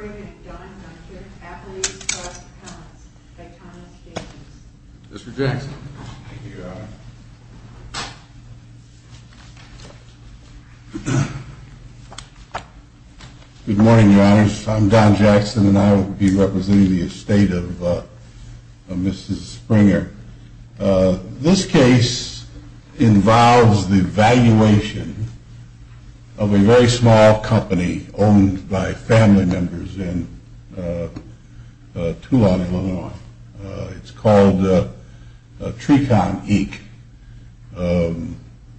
and Don Hunter, athletes plus accounts, by Thomas Jacobs. Mr. Jackson. Good morning, your honors. I'm Don Jackson and I will be representing the estate of Mrs. Springer. This case involves the valuation of a very small company owned by family members in Tulane, IL. It's called Trekon Inc.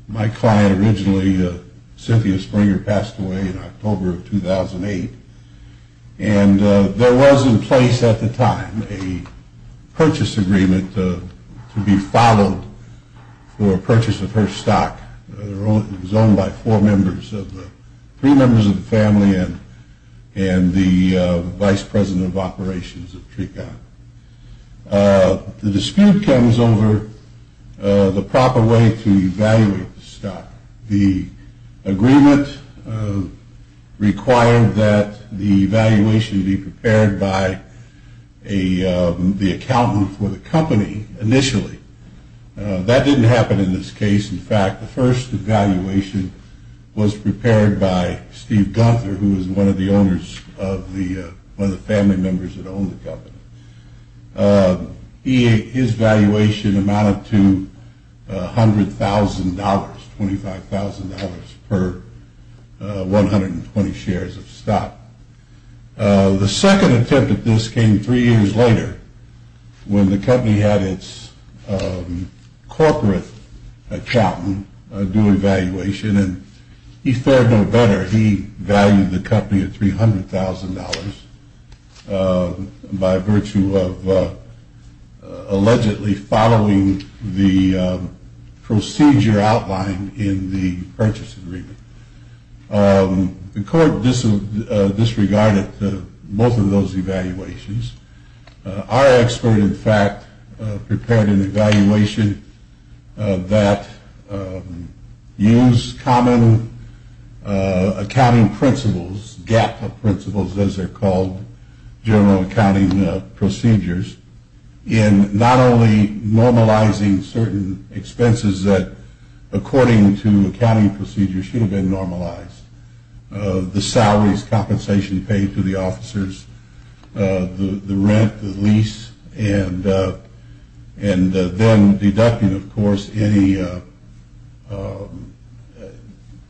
My client originally, Cynthia Springer, passed away in October of 2008. And there was in place at the time a purchase agreement to be followed for purchase of her stock. It was owned by four members, three members of the family and the vice president of operations of Trekon. The dispute comes over the proper way to evaluate the stock. The agreement required that the valuation be prepared by the accountant for the company initially. That didn't happen in this case. In fact, the first evaluation was prepared by Steve Gunther, who was one of the family members that owned the company. His valuation amounted to $100,000, $25,000 per 120 shares of stock. The second attempt at this came three years later when the company had its corporate accountant do an evaluation and he fared no better. He valued the company at $300,000 by virtue of allegedly following the procedure outlined in the purchase agreement. The court disregarded both of those evaluations. Our expert, in fact, prepared an evaluation that used common accounting principles, gap of principles as they're called, general accounting procedures in not only normalizing certain expenses that according to accounting procedures should have been normalized, the salaries, compensation paid to the officers, the rent, the lease, and then deducting, of course, any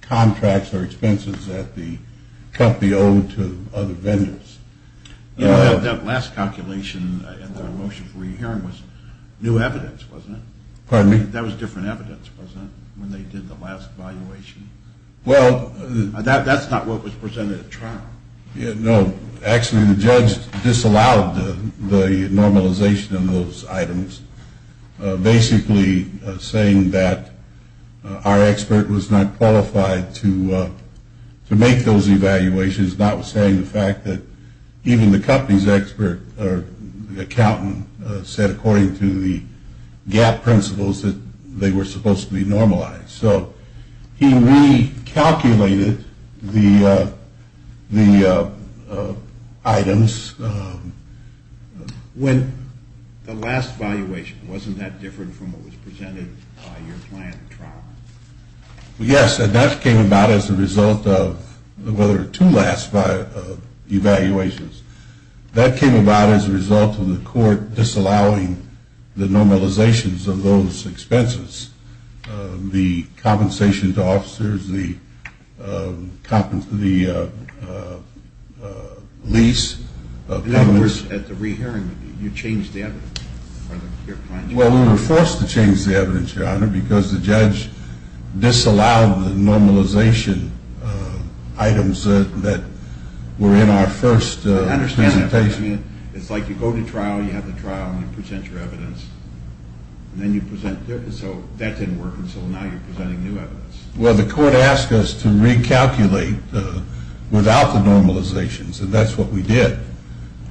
contracts or expenses that the company owed to other vendors. That last calculation in the motion for your hearing was new evidence, wasn't it? Pardon me? That was different evidence, wasn't it, when they did the last evaluation? That's not what was presented at trial. No. Actually, the judge disallowed the normalization of those items, basically saying that our expert was not qualified to make those evaluations, notwithstanding the fact that even the company's accountant said according to the gap principles that they were supposed to be normalized. So he recalculated the items. When the last evaluation, wasn't that different from what was presented by your client at trial? Yes, and that came about as a result of the other two last evaluations. That came about as a result of the court disallowing the normalizations of those expenses, the compensation to officers, the lease. In other words, at the re-hearing, you changed the evidence. Well, we were forced to change the evidence, Your Honor, because the judge disallowed the normalization items that were in our first presentation. I understand that. It's like you go to trial, you have the trial, and you present your evidence. And then you present, so that didn't work, and so now you're presenting new evidence. Well, the court asked us to recalculate without the normalizations, and that's what we did.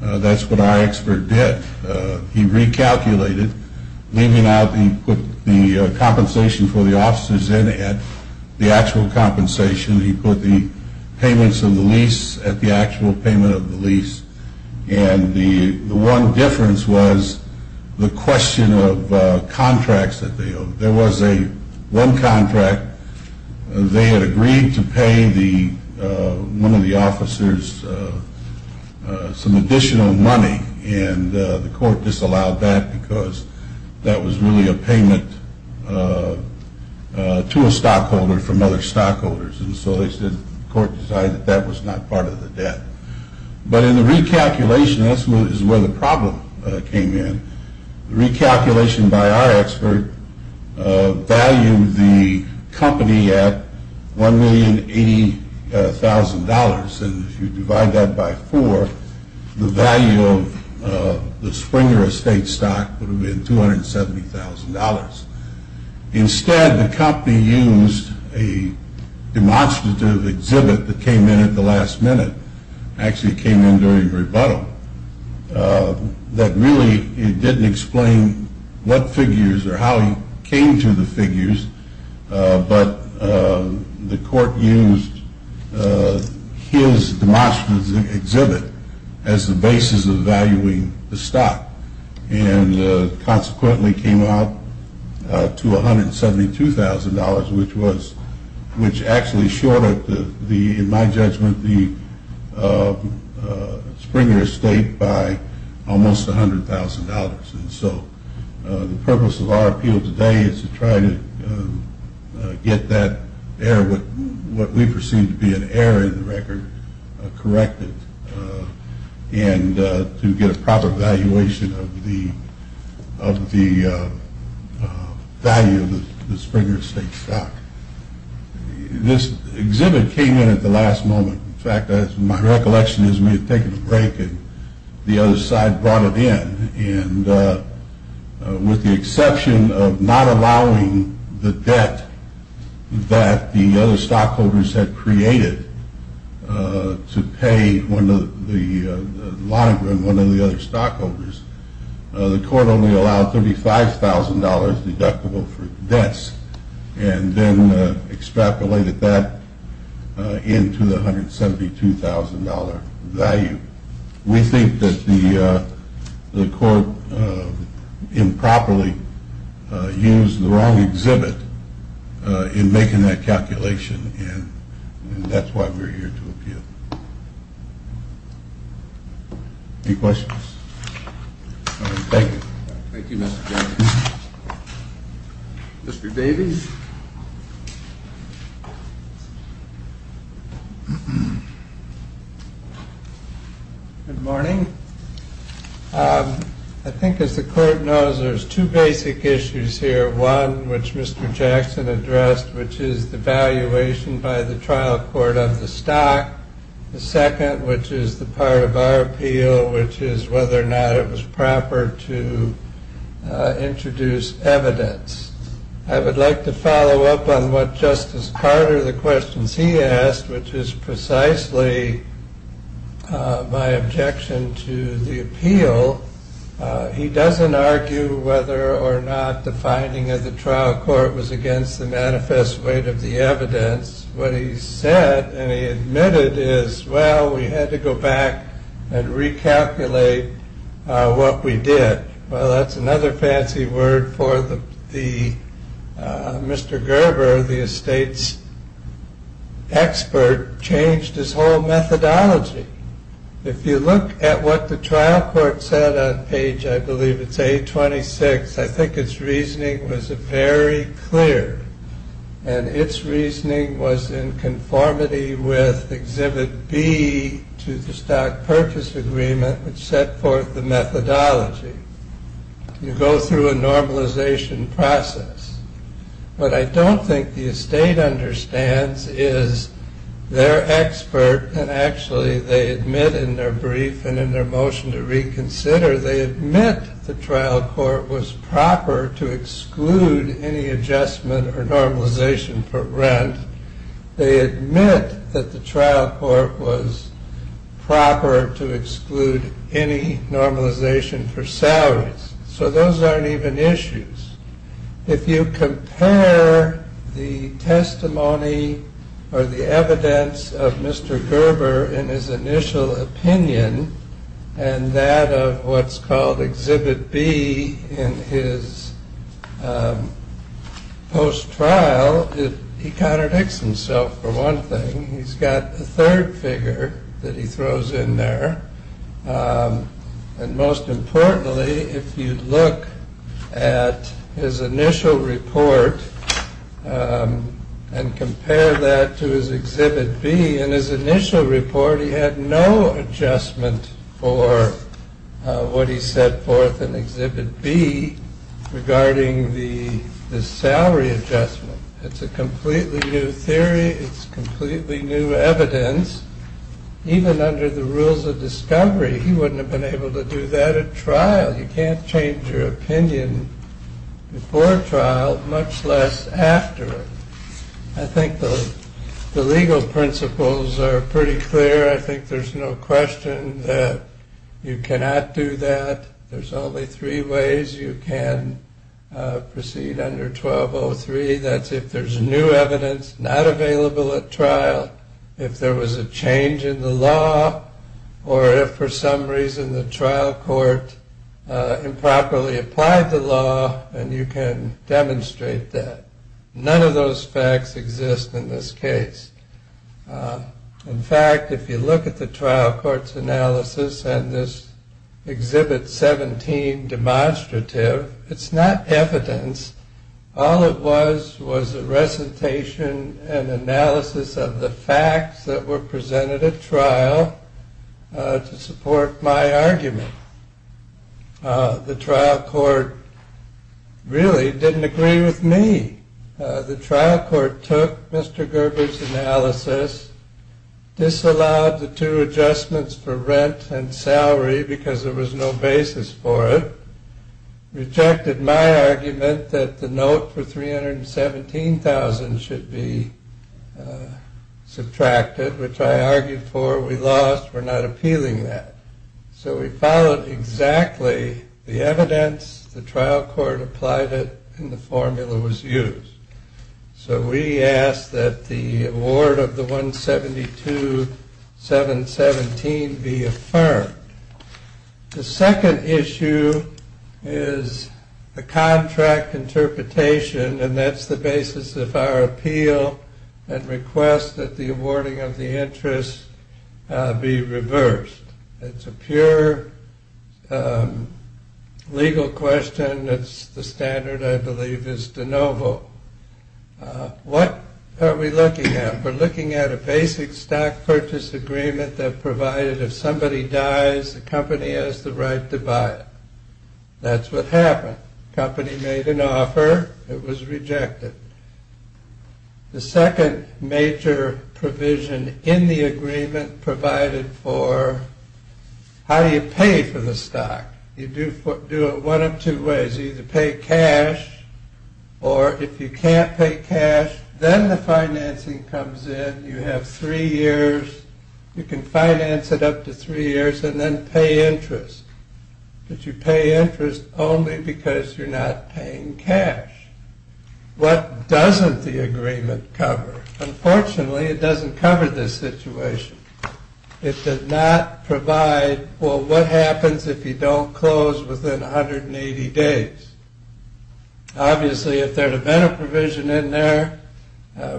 That's what our expert did. He recalculated, leaving out the compensation for the officers and the actual compensation. He put the payments of the lease at the actual payment of the lease. And the one difference was the question of contracts that they owed. There was one contract. They had agreed to pay one of the officers some additional money, and the court disallowed that because that was really a payment to a stockholder from other stockholders. And so the court decided that that was not part of the debt. But in the recalculation, that's where the problem came in. The recalculation by our expert valued the company at $1,080,000, and if you divide that by four, the value of the Springer Estate stock would have been $270,000. Instead, the company used a demonstrative exhibit that came in at the last minute. It actually came in during rebuttal. That really didn't explain what figures or how he came to the figures, but the court used his demonstrative exhibit as the basis of valuing the stock and consequently came out to $172,000, which actually shorted, in my judgment, the Springer Estate by almost $100,000. And so the purpose of our appeal today is to try to get that error, what we perceive to be an error in the record, corrected, and to get a proper valuation of the value of the Springer Estate stock. This exhibit came in at the last moment. In fact, my recollection is we had taken a break and the other side brought it in, and with the exception of not allowing the debt that the other stockholders had created to pay one of the other stockholders, the court only allowed $35,000 deductible for debts. And then extrapolated that into the $172,000 value. We think that the court improperly used the wrong exhibit in making that calculation, and that's why we're here to appeal. Any questions? Thank you. Thank you, Mr. Jenkins. Mr. Davies? Good morning. I think, as the court knows, there's two basic issues here. One, which Mr. Jackson addressed, which is the valuation by the trial court of the stock. The second, which is the part of our appeal, which is whether or not it was proper to introduce evidence. I would like to follow up on what Justice Carter, the questions he asked, which is precisely my objection to the appeal. He doesn't argue whether or not the finding of the trial court was against the manifest weight of the evidence. What he said, and he admitted, is, well, we had to go back and recalculate what we did. Well, that's another fancy word for Mr. Gerber, the estate's expert, changed his whole methodology. If you look at what the trial court said on page, I believe it's 826, I think its reasoning was very clear, and its reasoning was in conformity with exhibit B to the stock purchase agreement, which set forth the methodology. You go through a normalization process. What I don't think the estate understands is their expert, and actually they admit in their brief and in their motion to reconsider, they admit the trial court was proper to exclude any adjustment or normalization for rent. They admit that the trial court was proper to exclude any normalization for salaries. So those aren't even issues. If you compare the testimony or the evidence of Mr. Gerber in his initial opinion, and that of what's called exhibit B in his post-trial, he contradicts himself for one thing. He's got a third figure that he throws in there. And most importantly, if you look at his initial report and compare that to his exhibit B, in his initial report he had no adjustment for what he set forth in exhibit B regarding the salary adjustment. It's a completely new theory. It's completely new evidence. Even under the rules of discovery, he wouldn't have been able to do that at trial. You can't change your opinion before trial, much less after it. I think the legal principles are pretty clear. I think there's no question that you cannot do that. There's only three ways you can proceed under 1203. That's if there's new evidence not available at trial, if there was a change in the law, or if for some reason the trial court improperly applied the law, and you can demonstrate that. None of those facts exist in this case. In fact, if you look at the trial court's analysis and this exhibit 17 demonstrative, it's not evidence. All it was was a recitation and analysis of the facts that were presented at trial to support my argument. The trial court really didn't agree with me. The trial court took Mr. Gerber's analysis, disallowed the two adjustments for rent and salary because there was no basis for it, rejected my argument that the note for 317,000 should be subtracted, which I argued for. We lost. We're not appealing that. So we followed exactly the evidence, the trial court applied it, and the formula was used. So we asked that the award of the 172, 717 be affirmed. The second issue is the contract interpretation, and that's the basis of our appeal and request that the awarding of the interest be reversed. It's a pure legal question. It's the standard, I believe, is de novo. What are we looking at? We're looking at a basic stock purchase agreement that provided if somebody dies, the company has the right to buy it. That's what happened. The company made an offer. It was rejected. The second major provision in the agreement provided for how do you pay for the stock? You do it one of two ways. You either pay cash, or if you can't pay cash, then the financing comes in. You have three years. You can finance it up to three years and then pay interest. But you pay interest only because you're not paying cash. What doesn't the agreement cover? Unfortunately, it doesn't cover this situation. It does not provide, well, what happens if you don't close within 180 days? Obviously, if there had been a provision in there,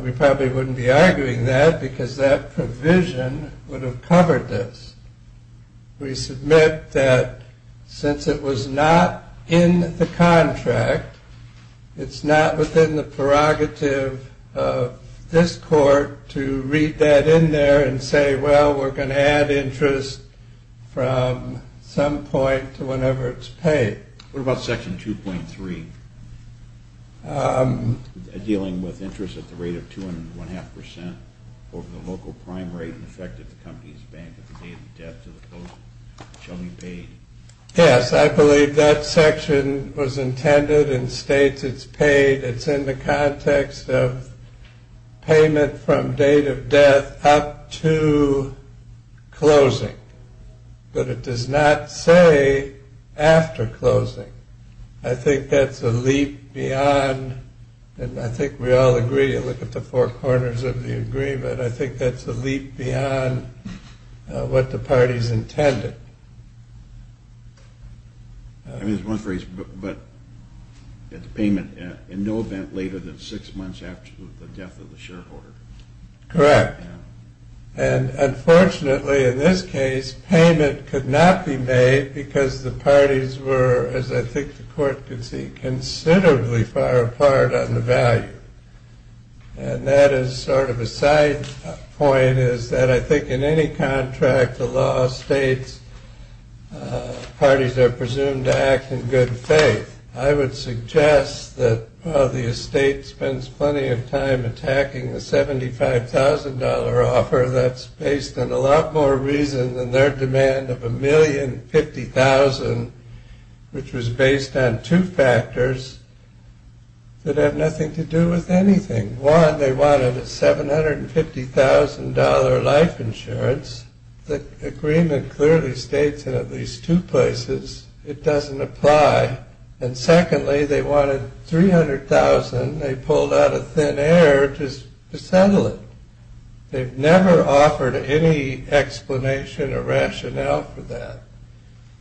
we probably wouldn't be arguing that, because that provision would have covered this. We submit that since it was not in the contract, it's not within the prerogative of this court to read that in there and say, well, we're going to add interest from some point to whenever it's paid. What about Section 2.3? Dealing with interest at the rate of two and one-half percent over the local prime rate in effect at the company's bank at the date of death to the closing. It shall be paid. Yes, I believe that section was intended and states it's paid. It's in the context of payment from date of death up to closing. But it does not say after closing. I think that's a leap beyond, and I think we all agree, look at the four corners of the agreement, I think that's a leap beyond what the parties intended. I mean, there's one phrase, but it's payment in no event later than six months after the death of the shareholder. Correct. And unfortunately in this case, payment could not be made because the parties were, as I think the court can see, considerably far apart on the value. And that is sort of a side point is that I think in any contract, the law states parties are presumed to act in good faith. I would suggest that the estate spends plenty of time attacking the $75,000 offer that's based on a lot more reason than their demand of $1,050,000, which was based on two factors that have nothing to do with anything. One, they wanted a $750,000 life insurance. The agreement clearly states in at least two places it doesn't apply. And secondly, they wanted $300,000. They pulled out of thin air just to settle it. They've never offered any explanation or rationale for that.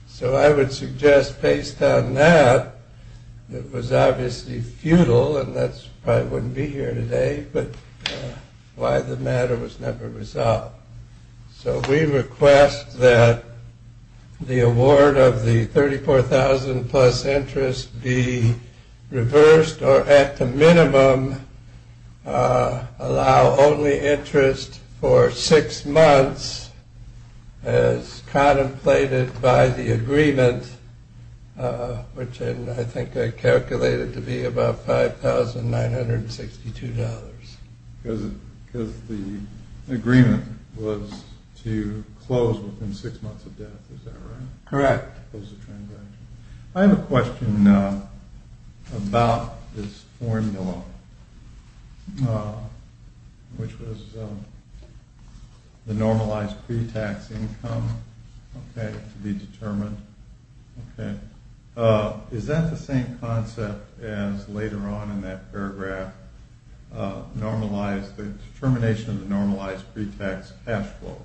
So I would suggest based on that, it was obviously futile, and that's why I wouldn't be here today, but why the matter was never resolved. So we request that the award of the $34,000 plus interest be reversed or at the minimum allow only interest for six months as contemplated by the agreement, which I think I calculated to be about $5,962. Because the agreement was to close within six months of death, is that right? Correct. I have a question about this formula, which was the normalized pre-tax income to be determined. Is that the same concept as later on in that paragraph, the determination of the normalized pre-tax cash flow?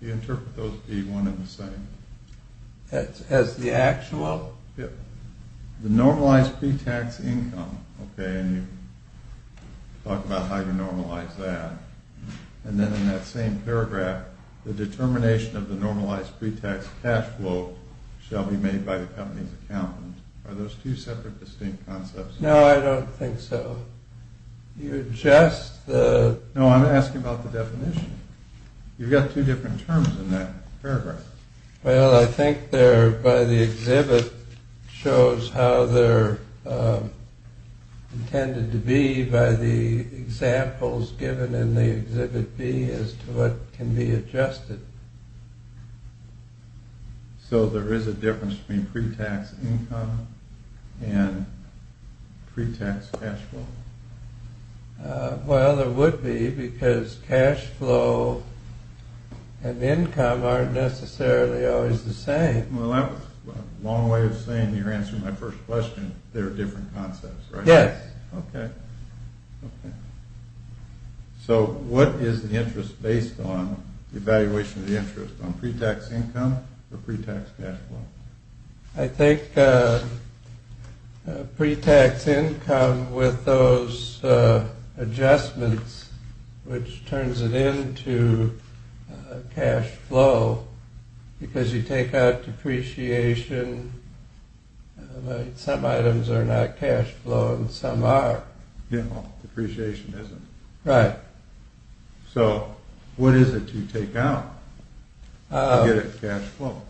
Do you interpret those to be one and the same? As the actual? Yeah. The normalized pre-tax income, okay, and you talk about how you normalize that. And then in that same paragraph, the determination of the normalized pre-tax cash flow shall be made by the company's accountant. Are those two separate distinct concepts? No, I don't think so. You're just the... No, I'm asking about the definition. You've got two different terms in that paragraph. Well, I think there by the exhibit shows how they're intended to be by the examples given in the exhibit B as to what can be adjusted. So there is a difference between pre-tax income and pre-tax cash flow? Well, there would be because cash flow and income aren't necessarily always the same. Well, that's a long way of saying you're answering my first question. They're different concepts, right? Yes. Okay. So what is the interest based on the evaluation of the interest on pre-tax income or pre-tax cash flow? I think pre-tax income with those adjustments which turns it into cash flow because you take out depreciation. Some items are not cash flow and some are. Yeah, depreciation isn't. Right. So what is it you take out to get a cash flow?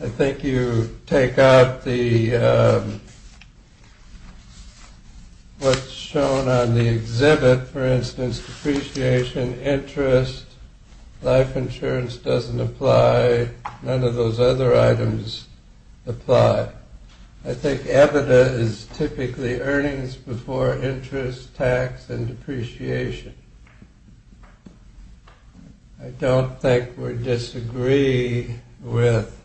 I think you take out what's shown on the exhibit. For instance, depreciation, interest, life insurance doesn't apply. None of those other items apply. I think EBITDA is typically earnings before interest, tax, and depreciation. I don't think we disagree with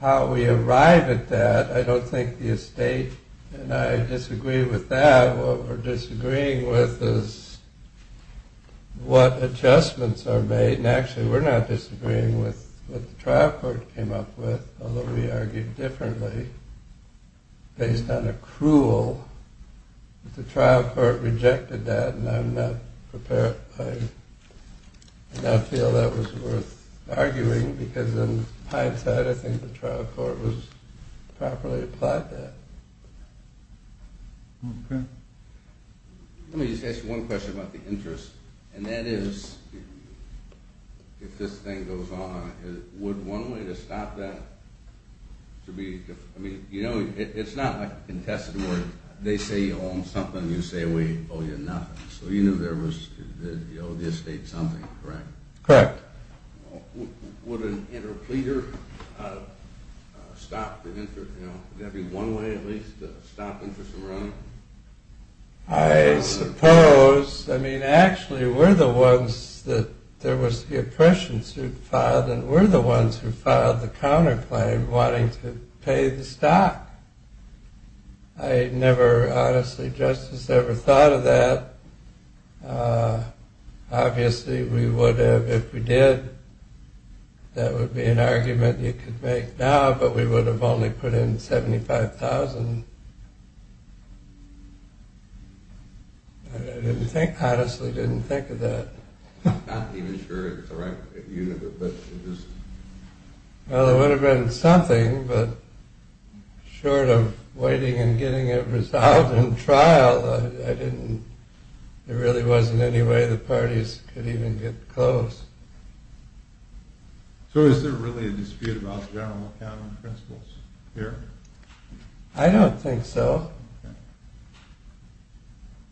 how we arrive at that. I don't think the estate and I disagree with that. What we're disagreeing with is what adjustments are made, and actually we're not disagreeing with what the trial court came up with, although we argued differently based on accrual. The trial court rejected that, and I'm not prepared. I don't feel that was worth arguing because in hindsight I think the trial court properly applied that. Okay. Let me just ask you one question about the interest, and that is if this thing goes on, would one way to stop that? I mean, you know, it's not like a contested word. They say you own something, you say we owe you nothing. So you knew you owed the estate something, correct? Correct. Would an interpleader stop the interest? Would that be one way at least to stop interest from running? I suppose. I mean, actually we're the ones that there was the oppression suit filed, and we're the ones who filed the counterclaim wanting to pay the stock. I never honestly just as ever thought of that. Obviously we would have if we did. That would be an argument you could make now, but we would have only put in $75,000. I honestly didn't think of that. I'm not even sure it's the right unit, but it is. Well, it would have been something, but short of waiting and getting it resolved in trial, there really wasn't any way the parties could even get close. So is there really a dispute about general accounting principles here? I don't think so.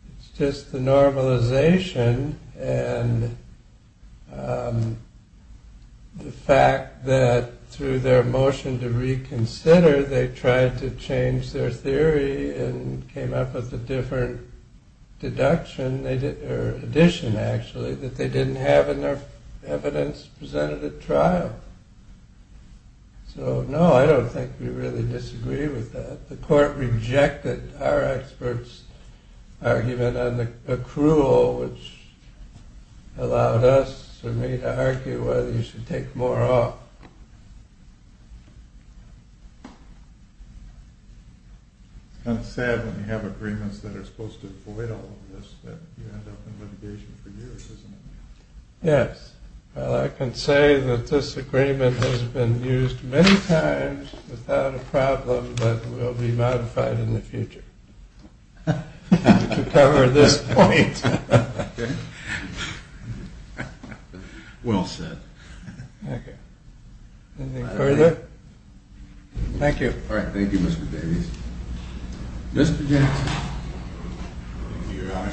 It's just the normalization and the fact that through their motion to reconsider, they tried to change their theory and came up with a different deduction, or addition actually, that they didn't have enough evidence presented at trial. So no, I don't think we really disagree with that. The court rejected our expert's argument on the accrual, which allowed us to argue whether you should take more off. It's kind of sad when you have agreements that are supposed to avoid all of this, that you end up in litigation for years, isn't it? Yes. Well, I can say that this agreement has been used many times without a problem that will be modified in the future to cover this point. Okay. Well said. Okay. Anything further? Thank you. All right. Thank you, Mr. Davies. Mr. Jackson. Here I am.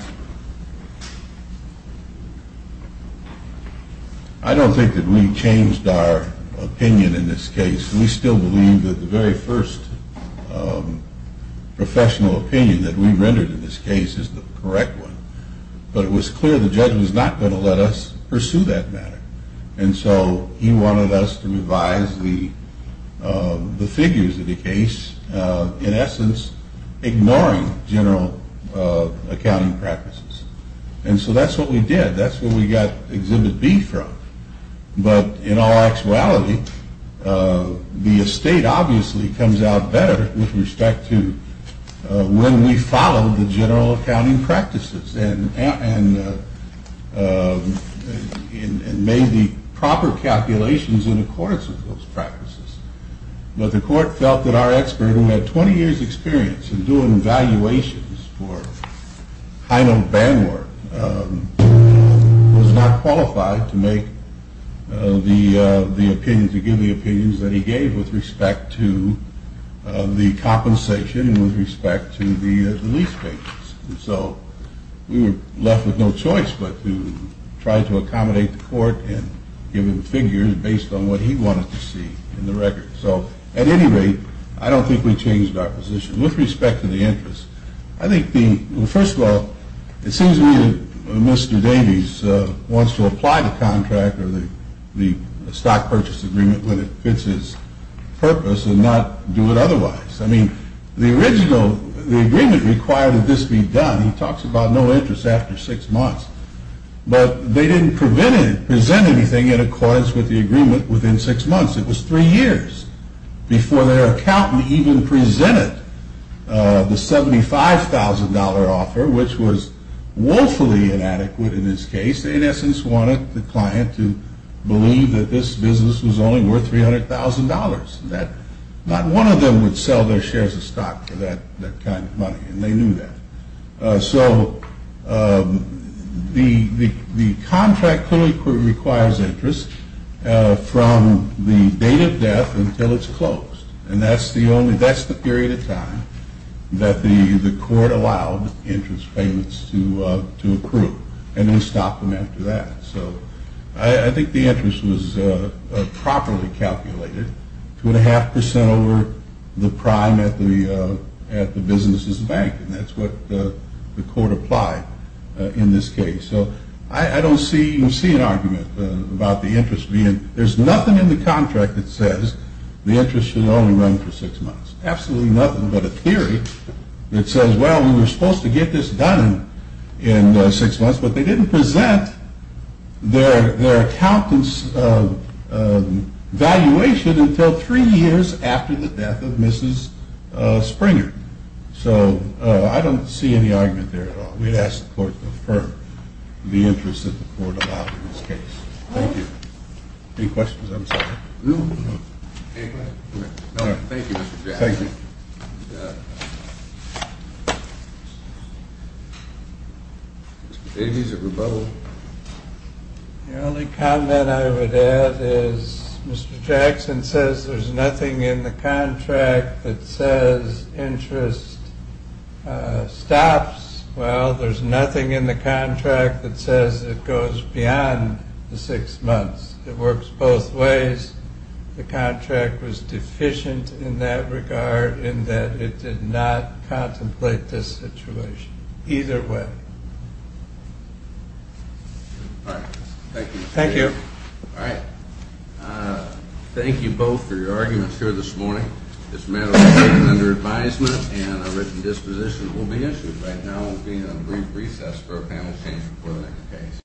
I don't think that we changed our opinion in this case. We still believe that the very first professional opinion that we rendered in this case is the correct one. But it was clear the judge was not going to let us pursue that matter. And so he wanted us to revise the figures of the case, in essence, ignoring general accounting practices. And so that's what we did. That's where we got Exhibit B from. But in all actuality, the estate obviously comes out better with respect to when we follow the general accounting practices and made the proper calculations in accordance with those practices. But the court felt that our expert, who had 20 years' experience in doing valuations for high-note bandwork, was not qualified to give the opinions that he gave with respect to the compensation and with respect to the lease payments. And so we were left with no choice but to try to accommodate the court and give him figures based on what he wanted to see in the record. So at any rate, I don't think we changed our position. With respect to the interest, I think the – well, first of all, it seems to me that Mr. Davies wants to apply the contract or the stock purchase agreement when it fits his purpose and not do it otherwise. I mean, the original – the agreement required that this be done. He talks about no interest after six months. But they didn't present anything in accordance with the agreement within six months. It was three years before their accountant even presented the $75,000 offer, which was woefully inadequate in this case. They, in essence, wanted the client to believe that this business was only worth $300,000. Not one of them would sell their shares of stock for that kind of money, and they knew that. So the contract clearly requires interest from the date of death until it's closed. And that's the only – that's the period of time that the court allowed interest payments to accrue, and we stopped them after that. So I think the interest was properly calculated, 2.5% over the prime at the business's bank, and that's what the court applied in this case. So I don't see – you don't see an argument about the interest being – there's nothing in the contract that says the interest should only run for six months. Absolutely nothing but a theory that says, well, we were supposed to get this done in six months, but they didn't present their accountant's valuation until three years after the death of Mrs. Springer. So I don't see any argument there at all. We'd ask the court to affirm the interest that the court allowed in this case. Thank you. Any questions? I'm sorry. No, thank you, Mr. Jackson. Thank you. Mr. Davies of Rebuttal. The only comment I would add is Mr. Jackson says there's nothing in the contract that says interest stops. Well, there's nothing in the contract that says it goes beyond the six months. It works both ways. The contract was deficient in that regard in that it did not contemplate this situation. Either way. All right. Thank you. Thank you. All right. Thank you both for your arguments here this morning. This matter was taken under advisement and a written disposition will be issued. Right now we'll be in a brief recess for a panel change before the next case.